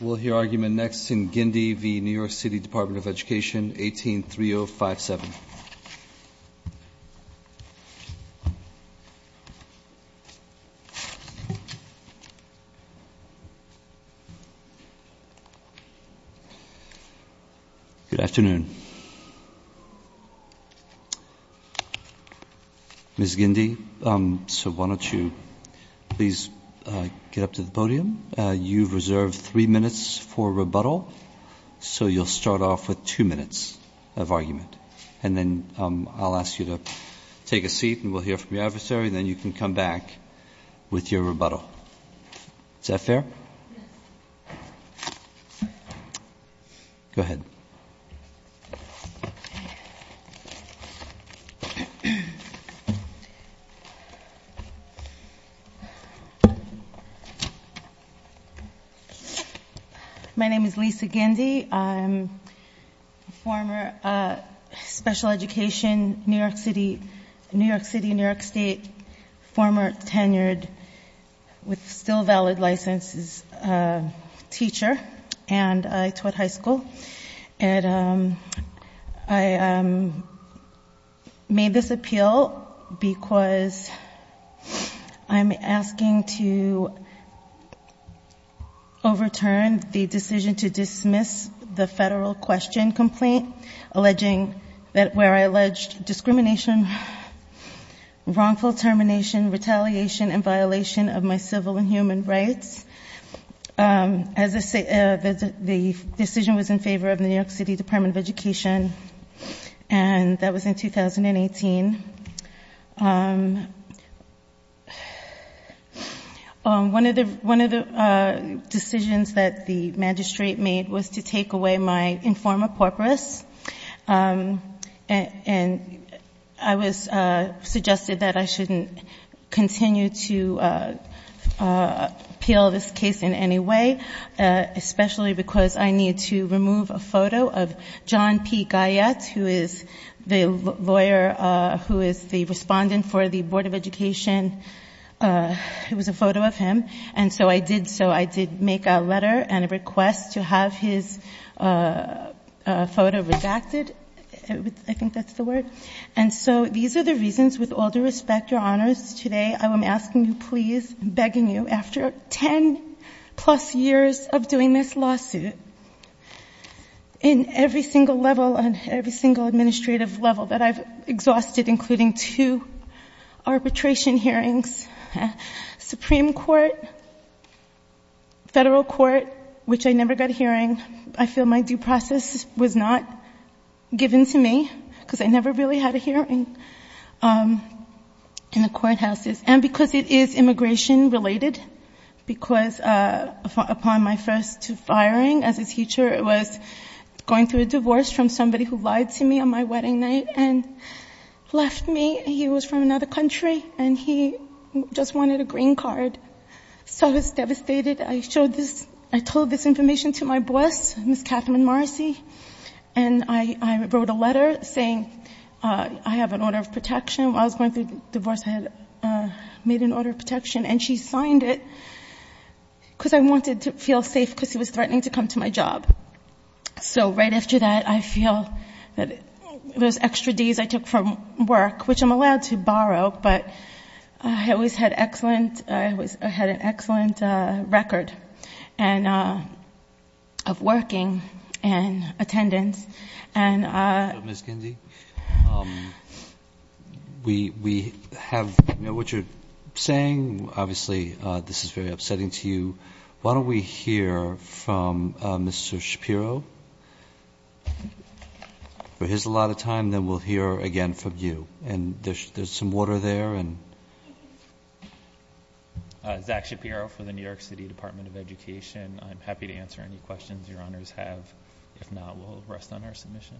We'll hear argument next in Gindi v. New York City Department of Education, 18-3057. Good afternoon. Ms. Gindi, so why don't you please get up to the podium. You've reserved three minutes for rebuttal, so you'll start off with two minutes of argument. And then I'll ask you to take a seat and we'll hear from your adversary, then you can come back with your rebuttal. Is that fair? Go ahead. My name is Lisa Gindi, I'm a former special education, New York City, New York State, former tenured, with still valid licenses, teacher, and I taught high school. And I made this appeal because I'm asking to overturn the decision to dismiss the federal question complaint, alleging that where I alleged discrimination, wrongful termination, retaliation, and violation of my civil and human rights. As I say, the decision was in favor of the New York City Department of Education, and that was in 2018. One of the decisions that the magistrate made was to take away my informer porpoise. And I was suggested that I shouldn't continue to appeal this case in any way. Especially because I need to remove a photo of John P. Guyette, who is the lawyer, who is the respondent for the Board of Education. It was a photo of him, and so I did so. And a request to have his photo redacted, I think that's the word. And so these are the reasons, with all due respect, your honors, today I am asking you please, begging you, after ten plus years of doing this lawsuit, in every single level, on every single administrative level that I've exhausted, including two arbitration hearings, Supreme Court, Federal Court, which I never got a hearing. I feel my due process was not given to me, because I never really had a hearing in the courthouses. And because it is immigration related, because upon my first firing as a teacher, it was going through a divorce from somebody who lied to me on my wedding night and left me. He was from another country, and he just wanted a green card. So I was devastated. I showed this, I told this information to my boss, Ms. Catherine Marcy. And I wrote a letter saying, I have an order of protection. While I was going through the divorce, I had made an order of protection. And she signed it, because I wanted to feel safe, because he was threatening to come to my job. So right after that, I feel that those extra D's I took from work, which I'm allowed to borrow. But I always had excellent, I had an excellent record. And of working and attendance. And- Ms. Kinsey, we have what you're saying. Obviously, this is very upsetting to you. Why don't we hear from Mr. Shapiro? For his allotted time, then we'll hear again from you. And there's some water there and. Zach Shapiro for the New York City Department of Education. I'm happy to answer any questions your honors have. If not, we'll rest on our submission.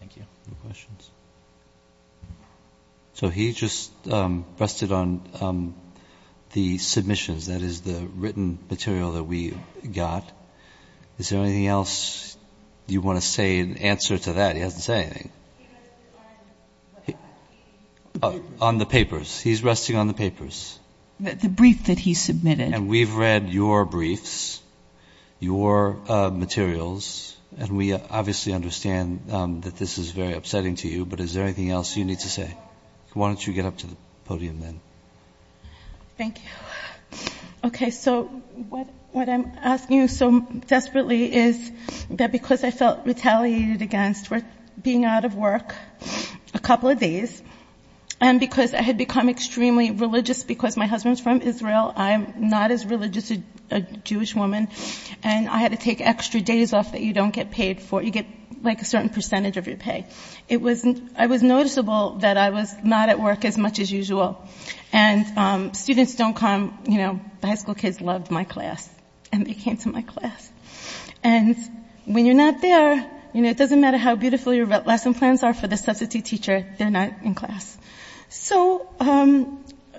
Thank you. No questions. So he just rested on the submissions. That is the written material that we got. Is there anything else you want to say in answer to that? He hasn't said anything. On the papers. He's resting on the papers. The brief that he submitted. And we've read your briefs, your materials. And we obviously understand that this is very upsetting to you. But is there anything else you need to say? Why don't you get up to the podium, then? Thank you. OK, so what I'm asking you so desperately is that because I felt retaliated against being out of work a couple of days. And because I had become extremely religious because my husband's from Israel. I'm not as religious a Jewish woman. And I had to take extra days off that you don't get paid for. You get a certain percentage of your pay. I was noticeable that I was not at work as much as usual. And students don't come. High school kids loved my class. And they came to my class. And when you're not there, it doesn't matter how beautiful your lesson plans are for the substitute teacher. They're not in class. So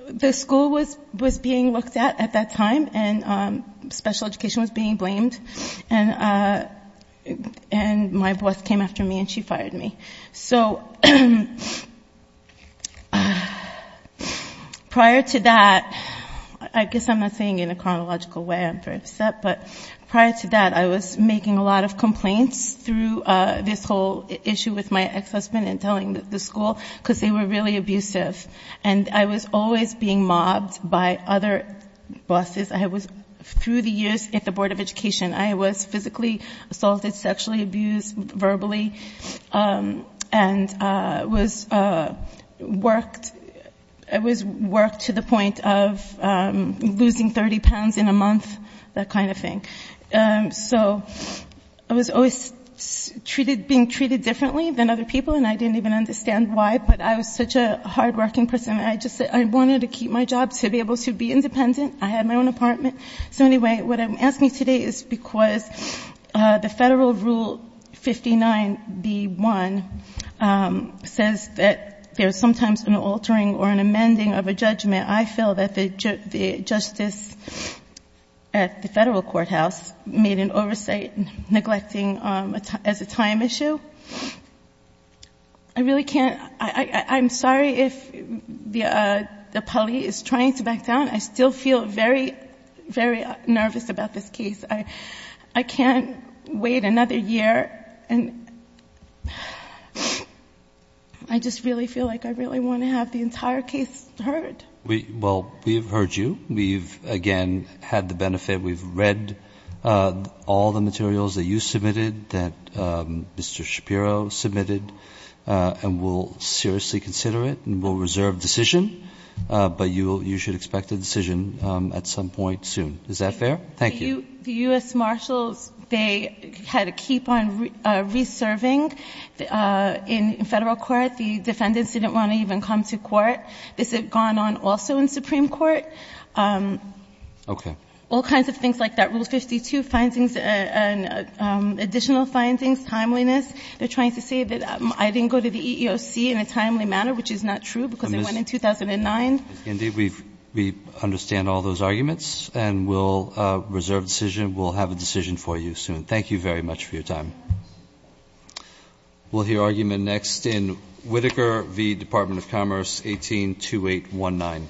the school was being looked at at that time. And special education was being blamed. And my boss came after me. And she fired me. So prior to that, I guess I'm not saying in a chronological way I'm very upset. But prior to that, I was making a lot of complaints through this whole issue with my ex-husband and telling the school because they were really abusive. And I was always being mobbed by other bosses. Through the years at the Board of Education, I was physically assaulted, sexually abused, verbally. And I was worked to the point of losing 30 pounds in a month, that kind of thing. So I was always being treated differently than other people. And I didn't even understand why. But I was such a hardworking person. I just wanted to keep my job to be able to be independent. I had my own apartment. So anyway, what I'm asking today is because the federal rule 59B1 says that there's sometimes an altering or an amending of a judgment. I feel that the justice at the federal courthouse made an oversight neglecting as a time issue. I really can't. I'm sorry if the police is trying to back down. I still feel very, very nervous about this case. I can't wait another year. And I just really feel like I really want to have the entire case heard. Well, we've heard you. We've, again, had the benefit. We've read all the materials that you submitted, that Mr. Shapiro submitted. And we'll seriously consider it. And we'll reserve decision. But you should expect a decision at some point soon. Is that fair? Thank you. The US Marshals, they had to keep on reserving in federal court. The defendants didn't want to even come to court. This had gone on also in Supreme Court. OK. All kinds of things like that. Rule 52, additional findings, timeliness. They're trying to say that I didn't go to the EEOC in a timely manner, which is not true. Because it went in 2009. Indeed, we understand all those arguments. And we'll reserve decision. We'll have a decision for you soon. Thank you very much for your time. We'll hear argument next in Whitaker v. Department of Commerce, 182819.